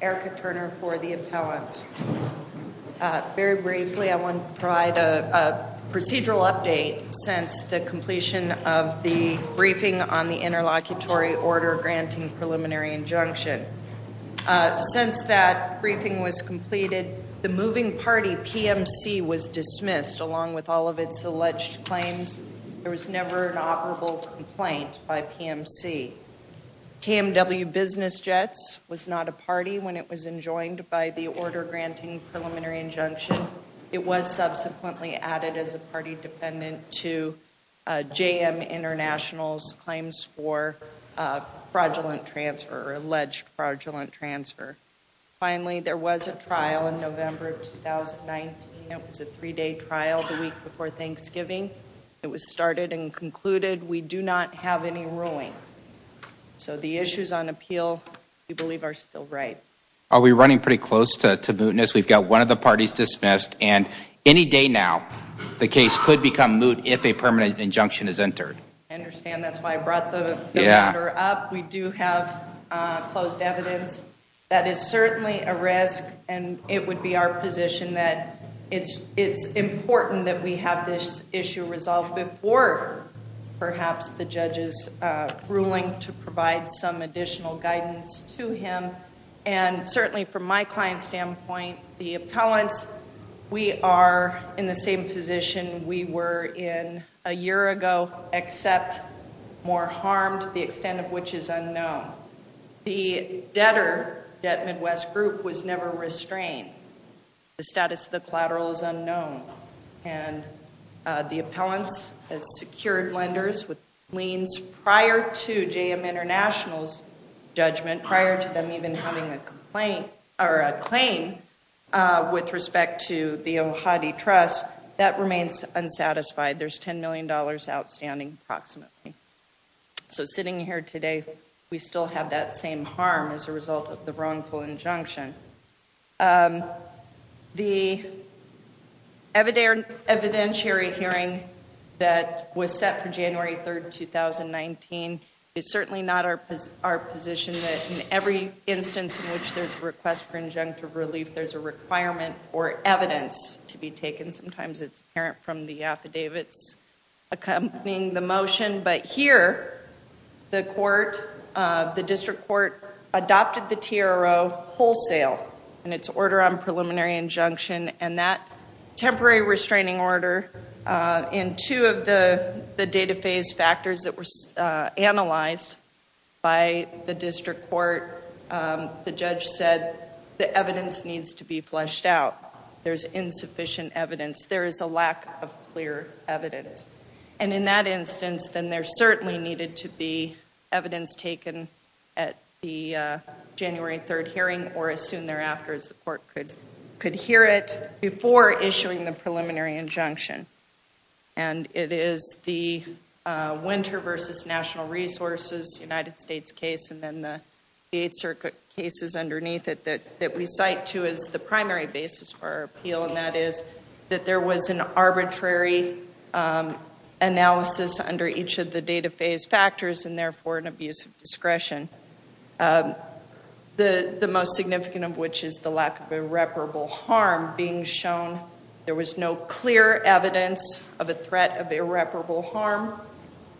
Erica Turner for the appellants. Very briefly, I want to provide a procedural update since the completion of the briefing on the interlocutory order granting preliminary injunction. Since that briefing was completed, the moving party, PMC, was dismissed along with all of its alleged claims. There was never an operable complaint by PMC. KMW Business Jets was not a party when it was enjoined by the order granting preliminary injunction. It was subsequently added as a party defendant to JM International's claims for fraudulent transfer or alleged fraudulent transfer. Finally, there was a trial in November of 2019. It was a three-day trial the week before Thanksgiving. It was started and concluded. We do not have any rulings. So the issues on appeal, we believe, are still right. Are we running pretty close to mootness? We've got one of the parties dismissed. And any day now, the case could become moot if a permanent injunction is entered. I understand. That's why I brought the matter up. We do have closed evidence. That is certainly a risk, and it would be our position that it's important that we have this issue resolved before perhaps the judge is ruling to provide some additional guidance to him. And certainly from my client's standpoint, the appellants, we are in the same position we were in a year ago, except more harmed, the extent of which is unknown. The debtor, Debt Midwest Group, was never restrained. The status of the collateral is unknown. And the appellants have secured lenders with liens prior to JM International's judgment, prior to them even having a complaint or a claim with respect to the Ohati Trust. That remains unsatisfied. There's $10 million outstanding approximately. So sitting here today, we still have that same harm as a result of the wrongful injunction. The evidentiary hearing that was set for January 3rd, 2019 is certainly not our position that in every instance in which there's a request for injunctive relief, there's a requirement or evidence to be taken. Sometimes it's apparent from the affidavits accompanying the motion. But here, the district court adopted the TRO wholesale in its order on preliminary injunction. And that temporary restraining order, in two of the data phase factors that were analyzed by the district court, the judge said the evidence needs to be fleshed out. There's insufficient evidence. There is a lack of clear evidence. And in that instance, then there certainly needed to be evidence taken at the January 3rd hearing or as soon thereafter as the court could hear it before issuing the preliminary injunction. And it is the Winter versus National Resources United States case and then the Eighth Circuit cases underneath it that we cite to as the primary basis for our appeal. And that is that there was an arbitrary analysis under each of the data phase factors and therefore an abuse of discretion. The most significant of which is the lack of irreparable harm being shown. There was no clear evidence of a threat of irreparable harm.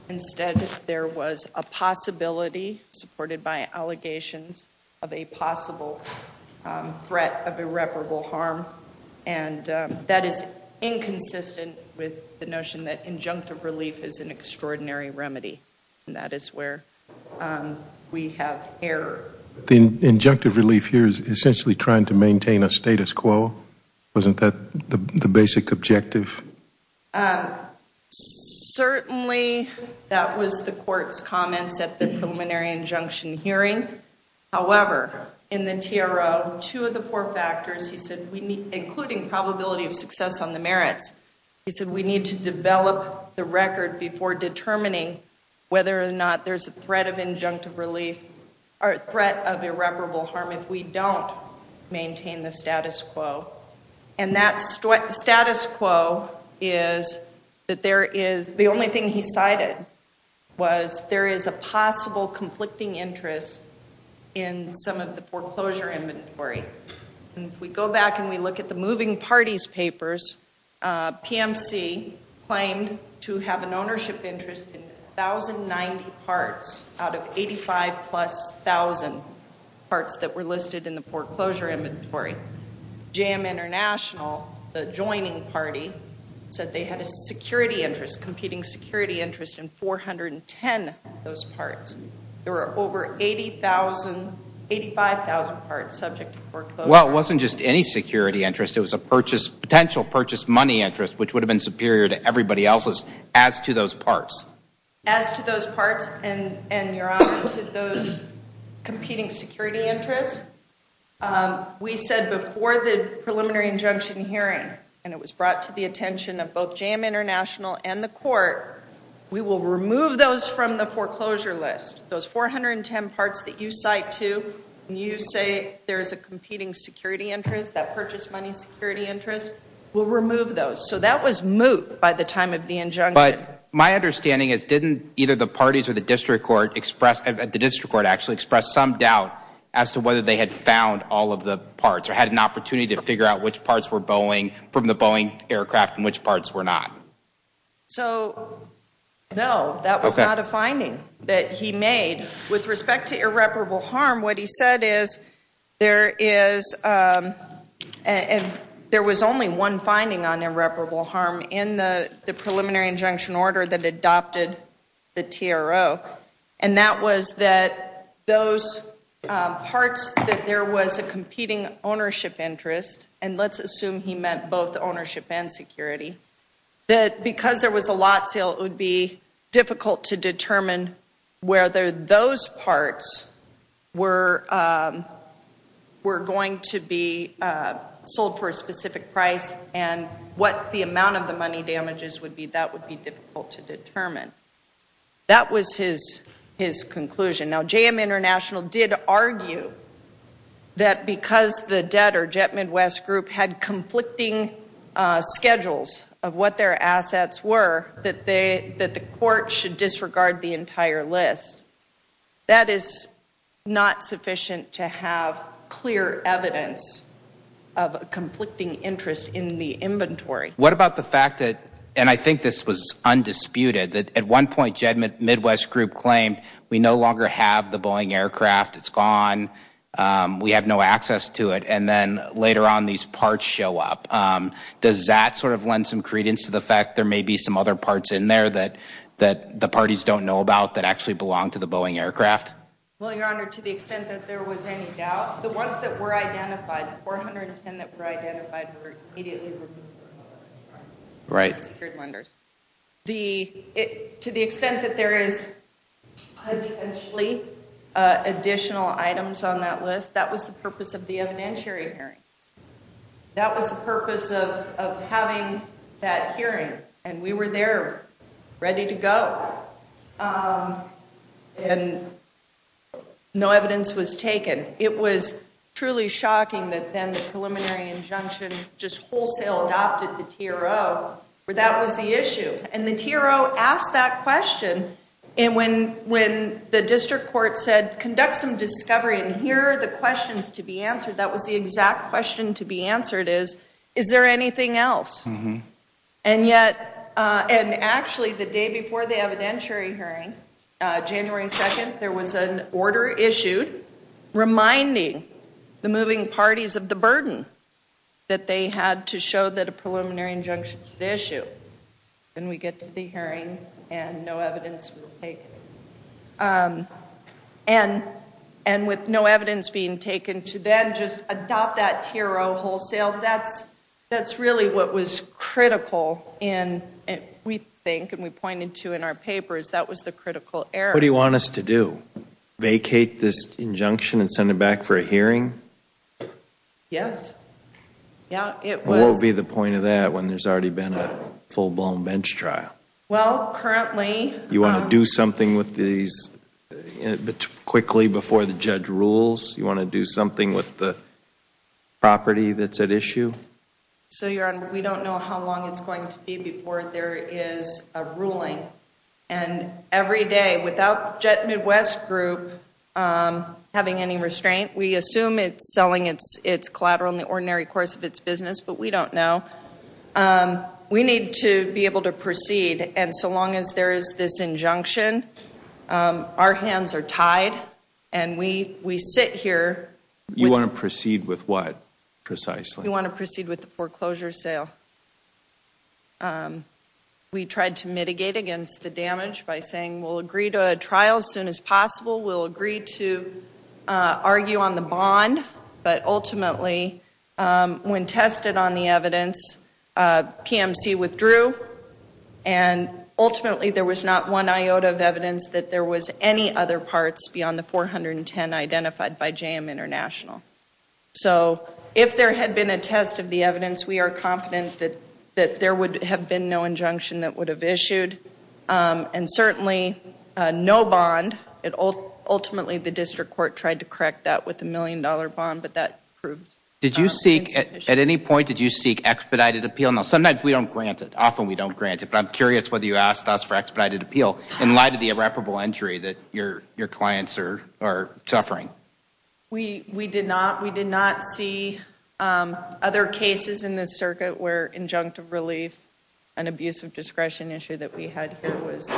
Instead, there was a possibility supported by allegations of a possible threat of irreparable harm. And that is inconsistent with the notion that injunctive relief is an extraordinary remedy. And that is where we have error. The injunctive relief here is essentially trying to maintain a status quo? Wasn't that the basic objective? Certainly, that was the court's comments at the preliminary injunction hearing. However, in the TRO, two of the four factors, including probability of success on the merits, he said we need to develop the record before determining whether or not there's a threat of injunctive relief or a threat of irreparable harm if we don't maintain the status quo. And that status quo is that there is the only thing he cited was there is a possible conflicting interest in some of the foreclosure inventory. And if we go back and we look at the moving parties papers, PMC claimed to have an ownership interest in 1,090 parts out of 85 plus thousand parts that were listed in the foreclosure inventory. JAM International, the joining party, said they had a security interest, competing security interest in 410 of those parts. There were over 85,000 parts subject to foreclosure. Well, it wasn't just any security interest. It was a potential purchase money interest, which would have been superior to everybody else's as to those parts. As to those parts and, Your Honor, to those competing security interests, we said before the preliminary injunction hearing, and it was brought to the attention of both JAM International and the court, we will remove those from the foreclosure list. Those 410 parts that you cite to when you say there is a competing security interest, that purchase money security interest, we'll remove those. So that was moot by the time of the injunction. But my understanding is didn't either the parties or the district court express, the district court actually expressed some doubt as to whether they had found all of the parts or had an opportunity to figure out which parts were Boeing from the Boeing aircraft and which parts were not. So, no, that was not a finding that he made. With respect to irreparable harm, what he said is there is, and there was only one finding on irreparable harm in the preliminary injunction order that adopted the TRO, and that was that those parts that there was a competing ownership interest, and let's assume he meant both ownership and security, that because there was a lot sale, it would be difficult to determine whether those parts were going to be sold for a specific price and what the amount of the money damages would be. That would be difficult to determine. That was his conclusion. Now, JM International did argue that because the debtor, Jet Midwest Group, had conflicting schedules of what their assets were, that the court should disregard the entire list. That is not sufficient to have clear evidence of a conflicting interest in the inventory. What about the fact that, and I think this was undisputed, that at one point Jet Midwest Group claimed we no longer have the Boeing aircraft, it's gone, we have no access to it, and then later on these parts show up. Does that sort of lend some credence to the fact there may be some other parts in there that the parties don't know about that actually belong to the Boeing aircraft? Well, Your Honor, to the extent that there was any doubt, the ones that were identified, the 410 that were identified, were immediately removed from the list of secured lenders. To the extent that there is potentially additional items on that list, that was the purpose of the evidentiary hearing. That was the purpose of having that hearing. And we were there, ready to go, and no evidence was taken. It was truly shocking that then the preliminary injunction just wholesale adopted the TRO. That was the issue. And the TRO asked that question, and when the district court said conduct some discovery and here are the questions to be answered, that was the exact question to be answered is, is there anything else? And yet, and actually the day before the evidentiary hearing, January 2nd, there was an order issued reminding the moving parties of the burden that they had to show that a preliminary injunction should issue. And we get to the hearing, and no evidence was taken. And with no evidence being taken to then just adopt that TRO wholesale, that's really what was critical in, we think, and we pointed to in our papers, that was the critical error. What do you want us to do? Vacate this injunction and send it back for a hearing? Yes. Yeah, it was. What would be the point of that when there's already been a full-blown bench trial? Well, currently. You want to do something with these quickly before the judge rules? You want to do something with the property that's at issue? So, Your Honor, we don't know how long it's going to be before there is a ruling. And every day, without Jet Midwest Group having any restraint, we assume it's selling its collateral in the ordinary course of its business, but we don't know. We need to be able to proceed. And so long as there is this injunction, our hands are tied. And we sit here. You want to proceed with what, precisely? We want to proceed with the foreclosure sale. We tried to mitigate against the damage by saying we'll agree to a trial as soon as possible. We'll agree to argue on the bond. But ultimately, when tested on the evidence, PMC withdrew. And ultimately, there was not one iota of evidence that there was any other parts beyond the 410 identified by JM International. So if there had been a test of the evidence, we are confident that there would have been no injunction that would have issued. And certainly, no bond. Ultimately, the district court tried to correct that with a million-dollar bond, but that proved insufficient. Did you seek, at any point, did you seek expedited appeal? Now, sometimes we don't grant it. Often we don't grant it. But I'm curious whether you asked us for expedited appeal in light of the irreparable injury that your clients are suffering. We did not. We did not see other cases in this circuit where injunctive relief and abusive discretion issue that we had here was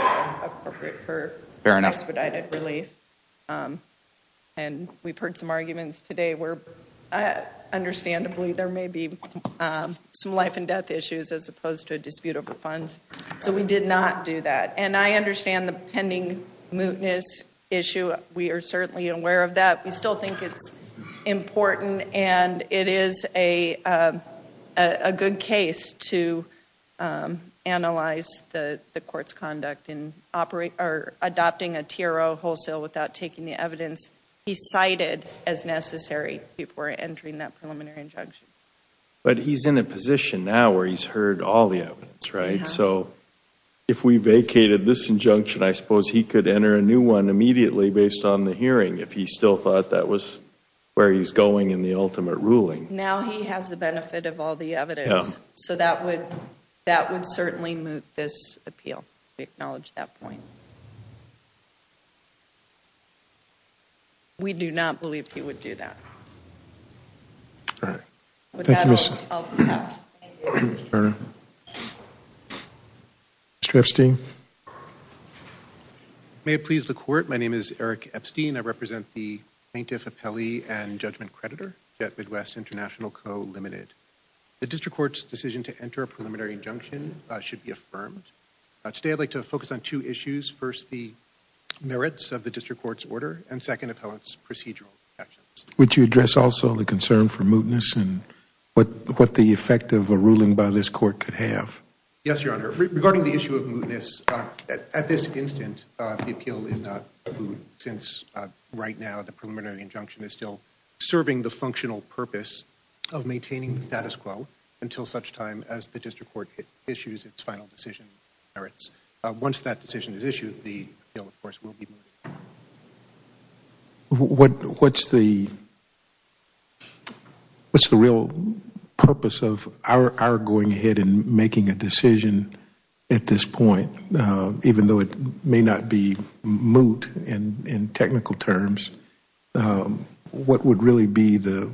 appropriate for expedited relief. And we've heard some arguments today where, understandably, there may be some life and death issues as opposed to a dispute over funds. So we did not do that. And I understand the pending mootness issue. We are certainly aware of that. We still think it's important. And it is a good case to analyze the court's conduct in adopting a TRO wholesale without taking the evidence he cited as necessary before entering that preliminary injunction. But he's in a position now where he's heard all the evidence, right? He has. So if we vacated this injunction, I suppose he could enter a new one immediately based on the hearing if he still thought that was where he's going in the ultimate ruling. Now he has the benefit of all the evidence. Yeah. So that would certainly moot this appeal. We acknowledge that point. All right. With that, I'll pass. Mr. Epstein? May it please the court, my name is Eric Epstein. I represent the plaintiff, appellee, and judgment creditor at Midwest International Co., Ltd. The district court's decision to enter a preliminary injunction should be affirmed. Today I'd like to focus on two issues. First, the merits of the district court's order. And second, appellant's procedural actions. Would you address also the concern for mootness and what the effect of a ruling by this court could have? Yes, Your Honor. Regarding the issue of mootness, at this instant the appeal is not moot. Since right now the preliminary injunction is still serving the functional purpose of maintaining the status quo until such time as the district court issues its final decision. Once that decision is issued, the appeal, of course, will be moot. What's the real purpose of our going ahead and making a decision at this point? Even though it may not be moot in technical terms, what would really be the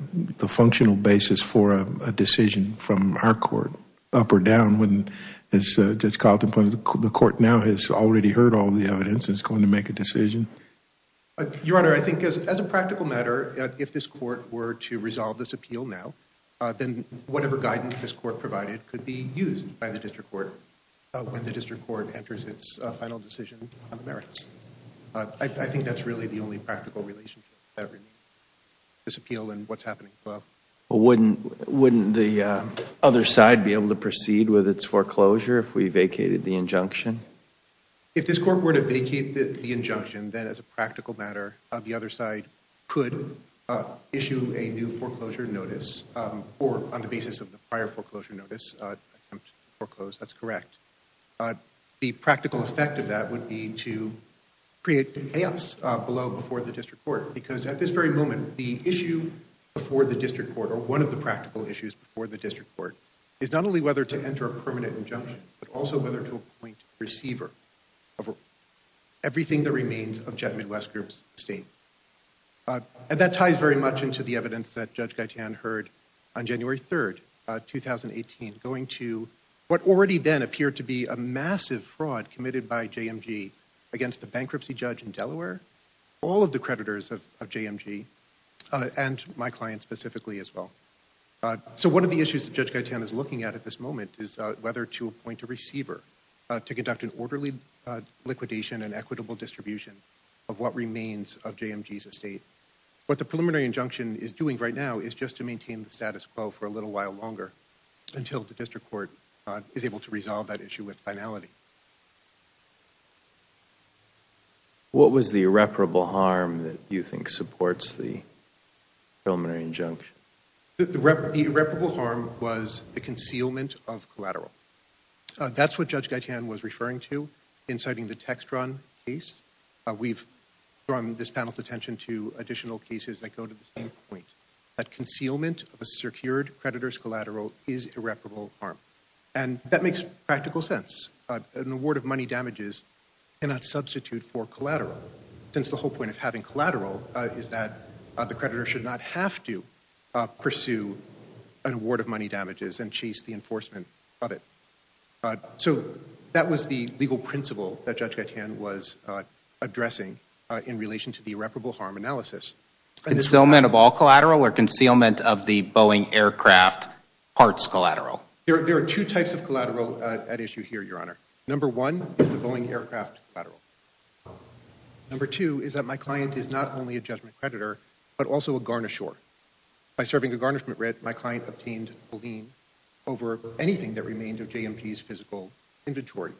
functional basis for a decision from our court? Your Honor, I think as a practical matter, if this court were to resolve this appeal now, then whatever guidance this court provided could be used by the district court when the district court enters its final decision on the merits. I think that's really the only practical relationship that remains. This appeal and what's happening above. Wouldn't the other side be able to proceed with its foreclosure if we vacated the injunction? If this court were to vacate the injunction, then as a practical matter, the other side could issue a new foreclosure notice, or on the basis of the prior foreclosure notice, attempt to foreclose. That's correct. The practical effect of that would be to create chaos below before the district court. Because at this very moment, the issue before the district court, or one of the practical issues before the district court, is not only whether to enter a permanent injunction, but also whether to appoint a receiver of everything that remains of Jet Midwest Group's estate. And that ties very much into the evidence that Judge Gaitan heard on January 3rd, 2018, going to what already then appeared to be a massive fraud committed by JMG against a bankruptcy judge in Delaware. All of the creditors of JMG, and my client specifically as well. So one of the issues that Judge Gaitan is looking at at this moment is whether to appoint a receiver to conduct an orderly liquidation and equitable distribution of what remains of JMG's estate. What the preliminary injunction is doing right now is just to maintain the status quo for a little while longer until the district court is able to resolve that issue with finality. What was the irreparable harm that you think supports the preliminary injunction? The irreparable harm was the concealment of collateral. That's what Judge Gaitan was referring to in citing the Textron case. We've drawn this panel's attention to additional cases that go to the same point. That concealment of a secured creditor's collateral is irreparable harm. And that makes practical sense. An award of money damages cannot substitute for collateral. Since the whole point of having collateral is that the creditor should not have to pursue an award of money damages and chase the enforcement of it. So that was the legal principle that Judge Gaitan was addressing in relation to the irreparable harm analysis. Concealment of all collateral or concealment of the Boeing aircraft parts collateral? There are two types of collateral at issue here, Your Honor. Number one is the Boeing aircraft collateral. Number two is that my client is not only a judgment creditor, but also a garnisher. By serving a garnishment writ, my client obtained a lien over anything that remained of JMP's physical inventory.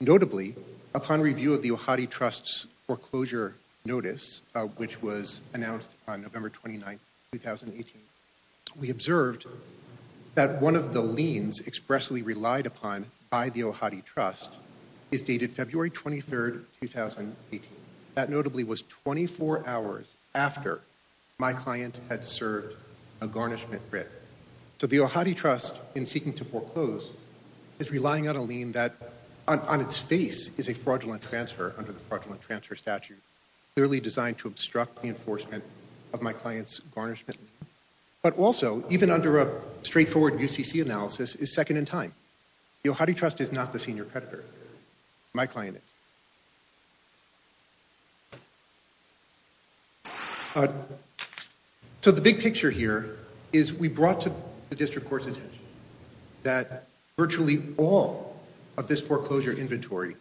Notably, upon review of the Ohati Trust's foreclosure notice, which was announced on November 29, 2018, we observed that one of the liens expressly relied upon by the Ohati Trust is dated February 23, 2018. That notably was 24 hours after my client had served a garnishment writ. So the Ohati Trust, in seeking to foreclose, is relying on a lien that on its face is a fraudulent transfer under the fraudulent transfer statute, clearly designed to obstruct the enforcement of my client's garnishment. But also, even under a straightforward UCC analysis, is second in time. The Ohati Trust is not the senior creditor. My client is. So the big picture here is we brought to the District Court's attention that virtually all of this foreclosure inventory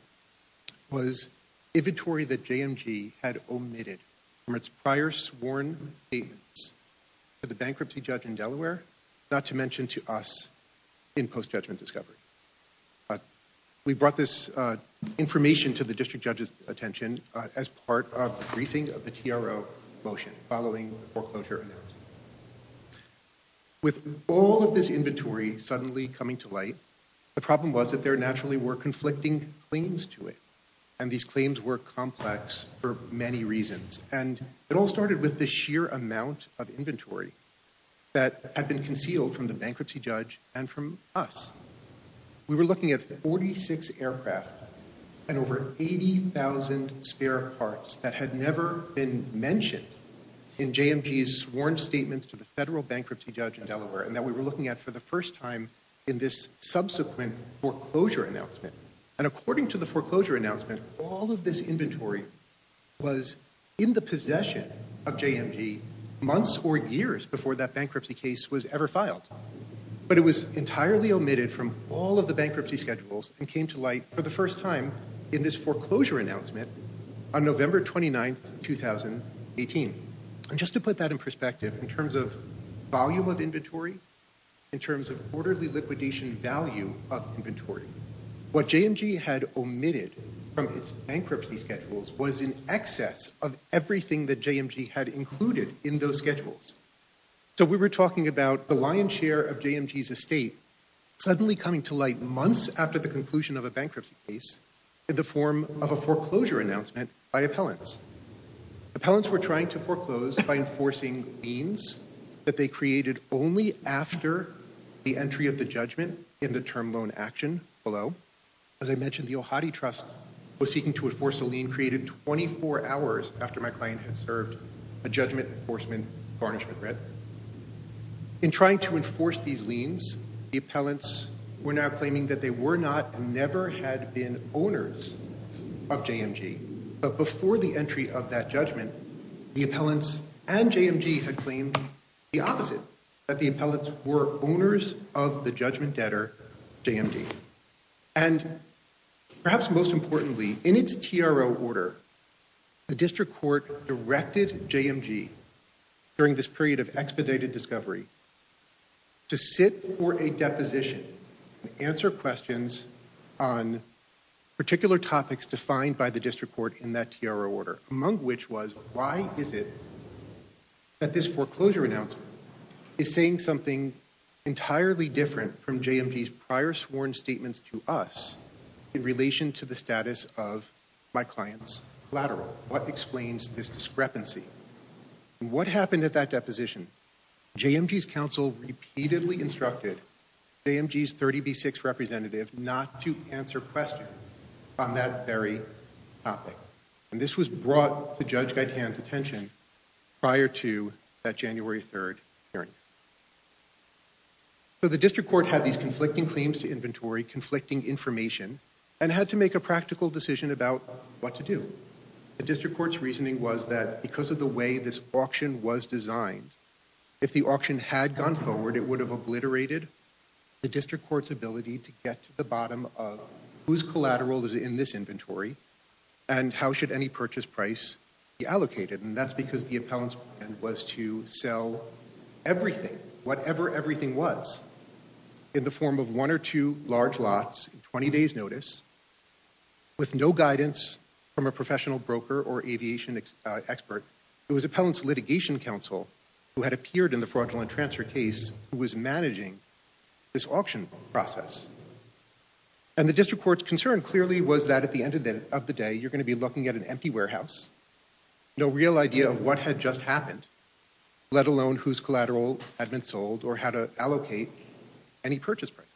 was inventory that JMG had omitted from its prior sworn statements to the bankruptcy judge in Delaware, not to mention to us in post-judgment discovery. We brought this information to the District Judge's attention as part of the briefing of the TRO motion following the foreclosure announcement. With all of this inventory suddenly coming to light, the problem was that there naturally were conflicting claims to it. And these claims were complex for many reasons. And it all started with the sheer amount of inventory that had been concealed from the bankruptcy judge and from us. We were looking at 46 aircraft and over 80,000 spare parts that had never been mentioned in JMG's sworn statements to the federal bankruptcy judge in Delaware, and that we were looking at for the first time in this subsequent foreclosure announcement. And according to the foreclosure announcement, all of this inventory was in the possession of JMG months or years before that bankruptcy case was ever filed. But it was entirely omitted from all of the bankruptcy schedules and came to light for the first time in this foreclosure announcement on November 29, 2018. And just to put that in perspective, in terms of volume of inventory, in terms of orderly liquidation value of inventory, what JMG had omitted from its bankruptcy schedules was in excess of everything that JMG had included in those schedules. So we were talking about the lion's share of JMG's estate suddenly coming to light months after the conclusion of a bankruptcy case in the form of a foreclosure announcement by appellants. Appellants were trying to foreclose by enforcing liens that they created only after the entry of the judgment in the term loan action below. As I mentioned, the Ohati Trust was seeking to enforce a lien created 24 hours after my client had served a judgment enforcement garnishment rent. In trying to enforce these liens, the appellants were now claiming that they were not and never had been owners of JMG. But before the entry of that judgment, the appellants and JMG had claimed the opposite, that the appellants were owners of the judgment debtor, JMG. And perhaps most importantly, in its TRO order, the district court directed JMG during this period of expedited discovery to sit for a deposition and answer questions on particular topics defined by the district court in that TRO order, among which was, why is it that this foreclosure announcement is saying something entirely different from JMG's prior sworn statements to us in relation to the status of my client's collateral? What explains this discrepancy? And what happened at that deposition? JMG's counsel repeatedly instructed JMG's 30B6 representative not to answer questions on that very topic. And this was brought to Judge Gaitan's attention prior to that January 3rd hearing. So the district court had these conflicting claims to inventory, conflicting information, and had to make a practical decision about what to do. The district court's reasoning was that because of the way this auction was designed, if the auction had gone forward, it would have obliterated the district court's ability to get to the bottom of whose collateral is in this inventory and how should any purchase price be allocated. And that's because the appellant's plan was to sell everything, whatever everything was, in the form of one or two large lots in 20 days' notice, with no guidance from a professional broker or aviation expert. It was appellant's litigation counsel who had appeared in the fraudulent transfer case who was managing this auction process. And the district court's concern clearly was that at the end of the day, you're going to be looking at an empty warehouse, no real idea of what had just happened, let alone whose collateral had been sold or how to allocate any purchase price.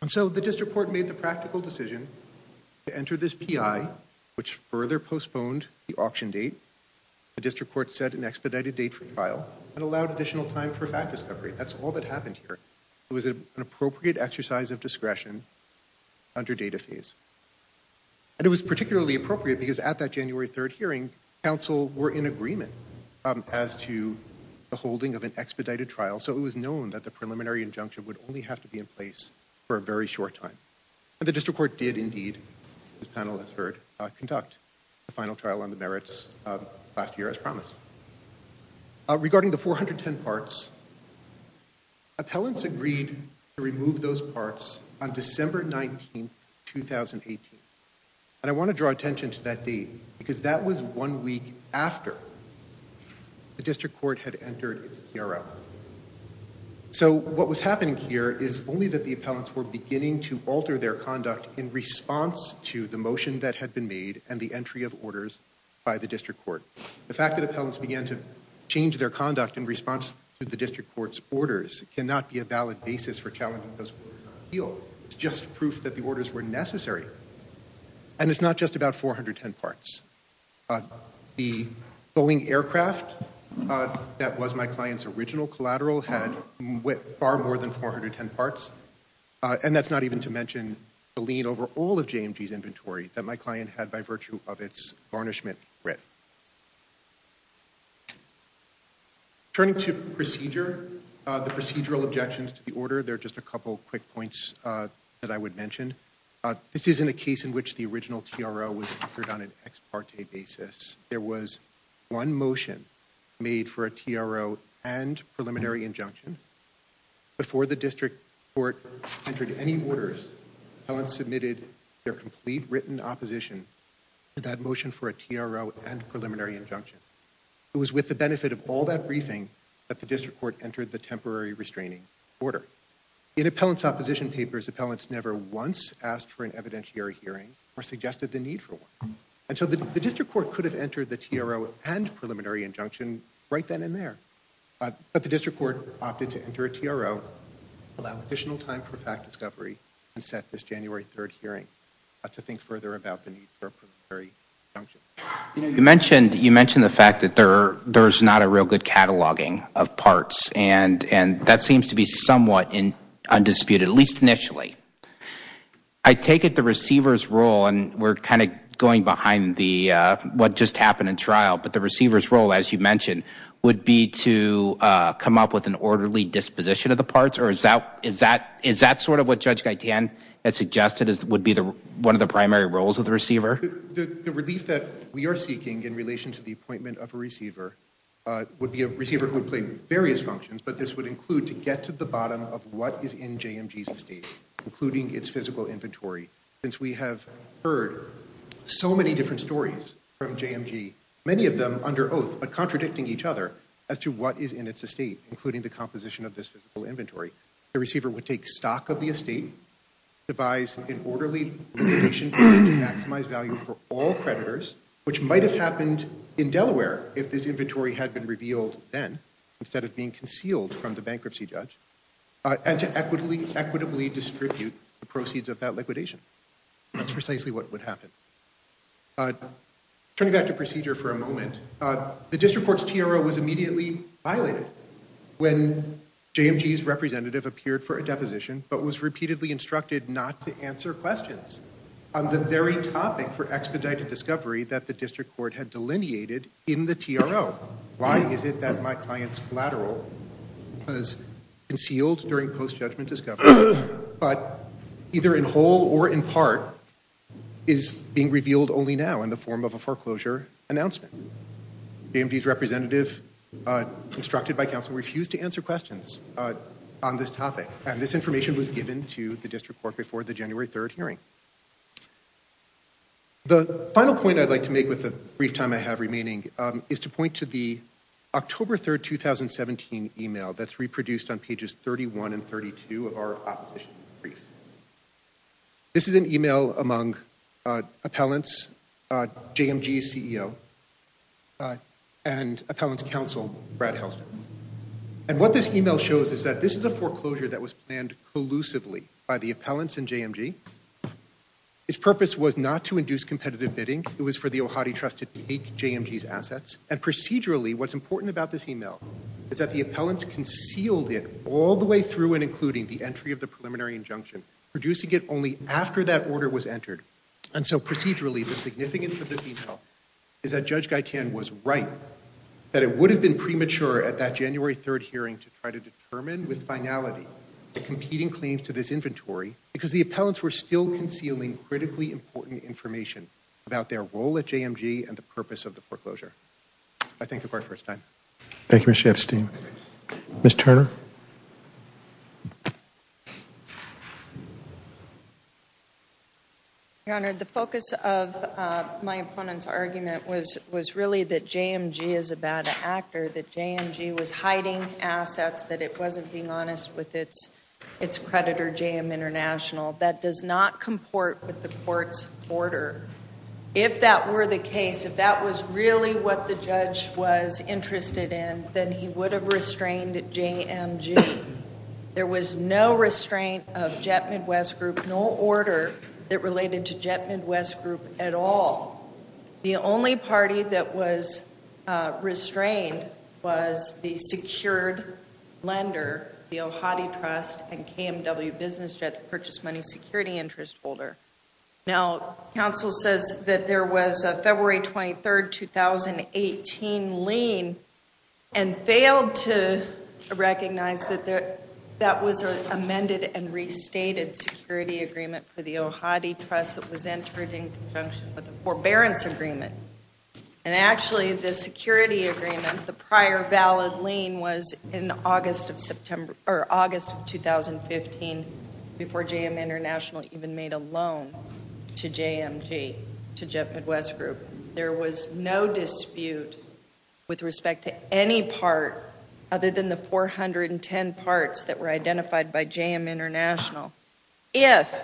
And so the district court made the practical decision to enter this PI, which further postponed the auction date. The district court set an expedited date for trial and allowed additional time for fact discovery. That's all that happened here. It was an appropriate exercise of discretion under data phase. And it was particularly appropriate because at that January 3rd hearing, counsel were in agreement as to the holding of an expedited trial, so it was known that the preliminary injunction would only have to be in place for a very short time. And the district court did indeed, as the panel has heard, conduct the final trial on the merits last year as promised. Regarding the 410 parts, appellants agreed to remove those parts on December 19th, 2018. And I want to draw attention to that date because that was one week after the district court had entered its PRL. So what was happening here is only that the appellants were beginning to alter their conduct in response to the motion that had been made and the entry of orders by the district court. The fact that appellants began to change their conduct in response to the district court's orders cannot be a valid basis for challenging those orders. It's just proof that the orders were necessary. And it's not just about 410 parts. The Boeing aircraft that was my client's original collateral had far more than 410 parts. And that's not even to mention the lien over all of JMG's inventory that my client had by virtue of its garnishment writ. Turning to procedure, the procedural objections to the order, there are just a couple quick points that I would mention. This isn't a case in which the original TRO was offered on an ex parte basis. There was one motion made for a TRO and preliminary injunction. Before the district court entered any orders, appellants submitted their complete written opposition to that motion for a TRO and preliminary injunction. It was with the benefit of all that briefing that the district court entered the temporary restraining order. In appellant's opposition papers, appellants never once asked for an evidentiary hearing or suggested the need for one. And so the district court could have entered the TRO and preliminary injunction right then and there. But the district court opted to enter a TRO, allow additional time for fact discovery, and set this January 3rd hearing. Not to think further about the need for a preliminary injunction. You mentioned the fact that there's not a real good cataloging of parts. And that seems to be somewhat undisputed, at least initially. I take it the receiver's role, and we're kind of going behind what just happened in trial, but the receiver's role, as you mentioned, would be to come up with an orderly disposition of the parts? Or is that sort of what Judge Gaitan had suggested would be one of the primary roles of the receiver? The relief that we are seeking in relation to the appointment of a receiver would be a receiver who would play various functions. But this would include to get to the bottom of what is in JMG's estate, including its physical inventory. Since we have heard so many different stories from JMG, many of them under oath, but contradicting each other as to what is in its estate, including the composition of this physical inventory. The receiver would take stock of the estate, devise an orderly limitation plan to maximize value for all creditors, which might have happened in Delaware if this inventory had been revealed then, instead of being concealed from the bankruptcy judge, and to equitably distribute the proceeds of that liquidation. That's precisely what would happen. Turning back to procedure for a moment, the District Court's TRO was immediately violated when JMG's representative appeared for a deposition but was repeatedly instructed not to answer questions on the very topic for expedited discovery that the District Court had delineated in the TRO. Why is it that my client's collateral was concealed during post-judgment discovery, but either in whole or in part is being revealed only now in the form of a foreclosure announcement? JMG's representative, instructed by counsel, refused to answer questions on this topic. And this information was given to the District Court before the January 3rd hearing. The final point I'd like to make with the brief time I have remaining is to point to the October 3rd, 2017 email that's reproduced on pages 31 and 32 of our opposition brief. This is an email among appellants, JMG's CEO, and appellants counsel, Brad Helsman. And what this email shows is that this is a foreclosure that was planned collusively by the appellants and JMG. Its purpose was not to induce competitive bidding. It was for the Ohati Trust to take JMG's assets. And procedurally, what's important about this email is that the appellants concealed it all the way through and including the entry of the preliminary injunction, producing it only after that order was entered. And so procedurally, the significance of this email is that Judge Gaitan was right, that it would have been premature at that January 3rd hearing to try to determine with finality the competing claims to this inventory because the appellants were still concealing critically important information about their role at JMG and the purpose of the foreclosure. I thank the Court for its time. Thank you, Mr. Epstein. Ms. Turner? Your Honor, the focus of my opponent's argument was really that JMG is a bad actor, that JMG was hiding assets, that it wasn't being honest with its creditor, JM International. That does not comport with the Court's order. If that were the case, if that was really what the judge was interested in, then he would have restrained JMG. There was no restraint of Jet Midwest Group, no order that related to Jet Midwest Group at all. The only party that was restrained was the secured lender, the Ohati Trust and KMW Business Jet Purchase Money Security Interest Holder. Now, counsel says that there was a February 23rd, 2018 lien and failed to recognize that that was an amended and restated security agreement for the Ohati Trust that was entered in conjunction with a forbearance agreement. And actually, the security agreement, the prior valid lien was in August of 2015 before JM International even made a loan to JMG, to Jet Midwest Group. There was no dispute with respect to any part other than the 410 parts that were identified by JM International. If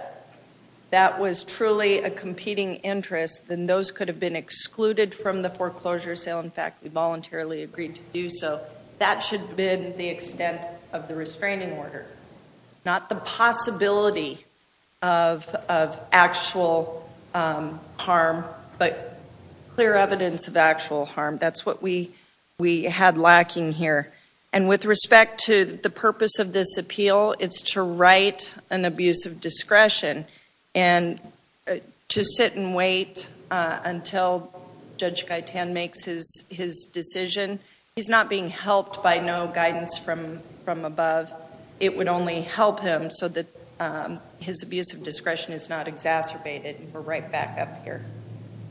that was truly a competing interest, then those could have been excluded from the foreclosure sale. In fact, we voluntarily agreed to do so. That should have been the extent of the restraining order, not the possibility of actual harm, but clear evidence of actual harm. That's what we had lacking here. And with respect to the purpose of this appeal, it's to write an abuse of discretion and to sit and wait until Judge Gaitan makes his decision. He's not being helped by no guidance from above. It would only help him so that his abuse of discretion is not exacerbated, and we're right back up here.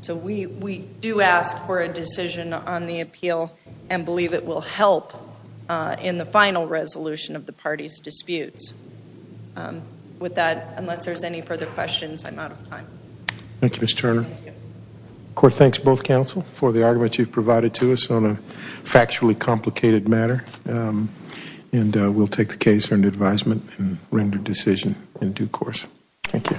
So we do ask for a decision on the appeal and believe it will help in the final resolution of the party's disputes. With that, unless there's any further questions, I'm out of time. Thank you, Ms. Turner. Court thanks both counsel for the argument you've provided to us on a factually complicated matter, and we'll take the case under advisement and render decision in due course. Thank you.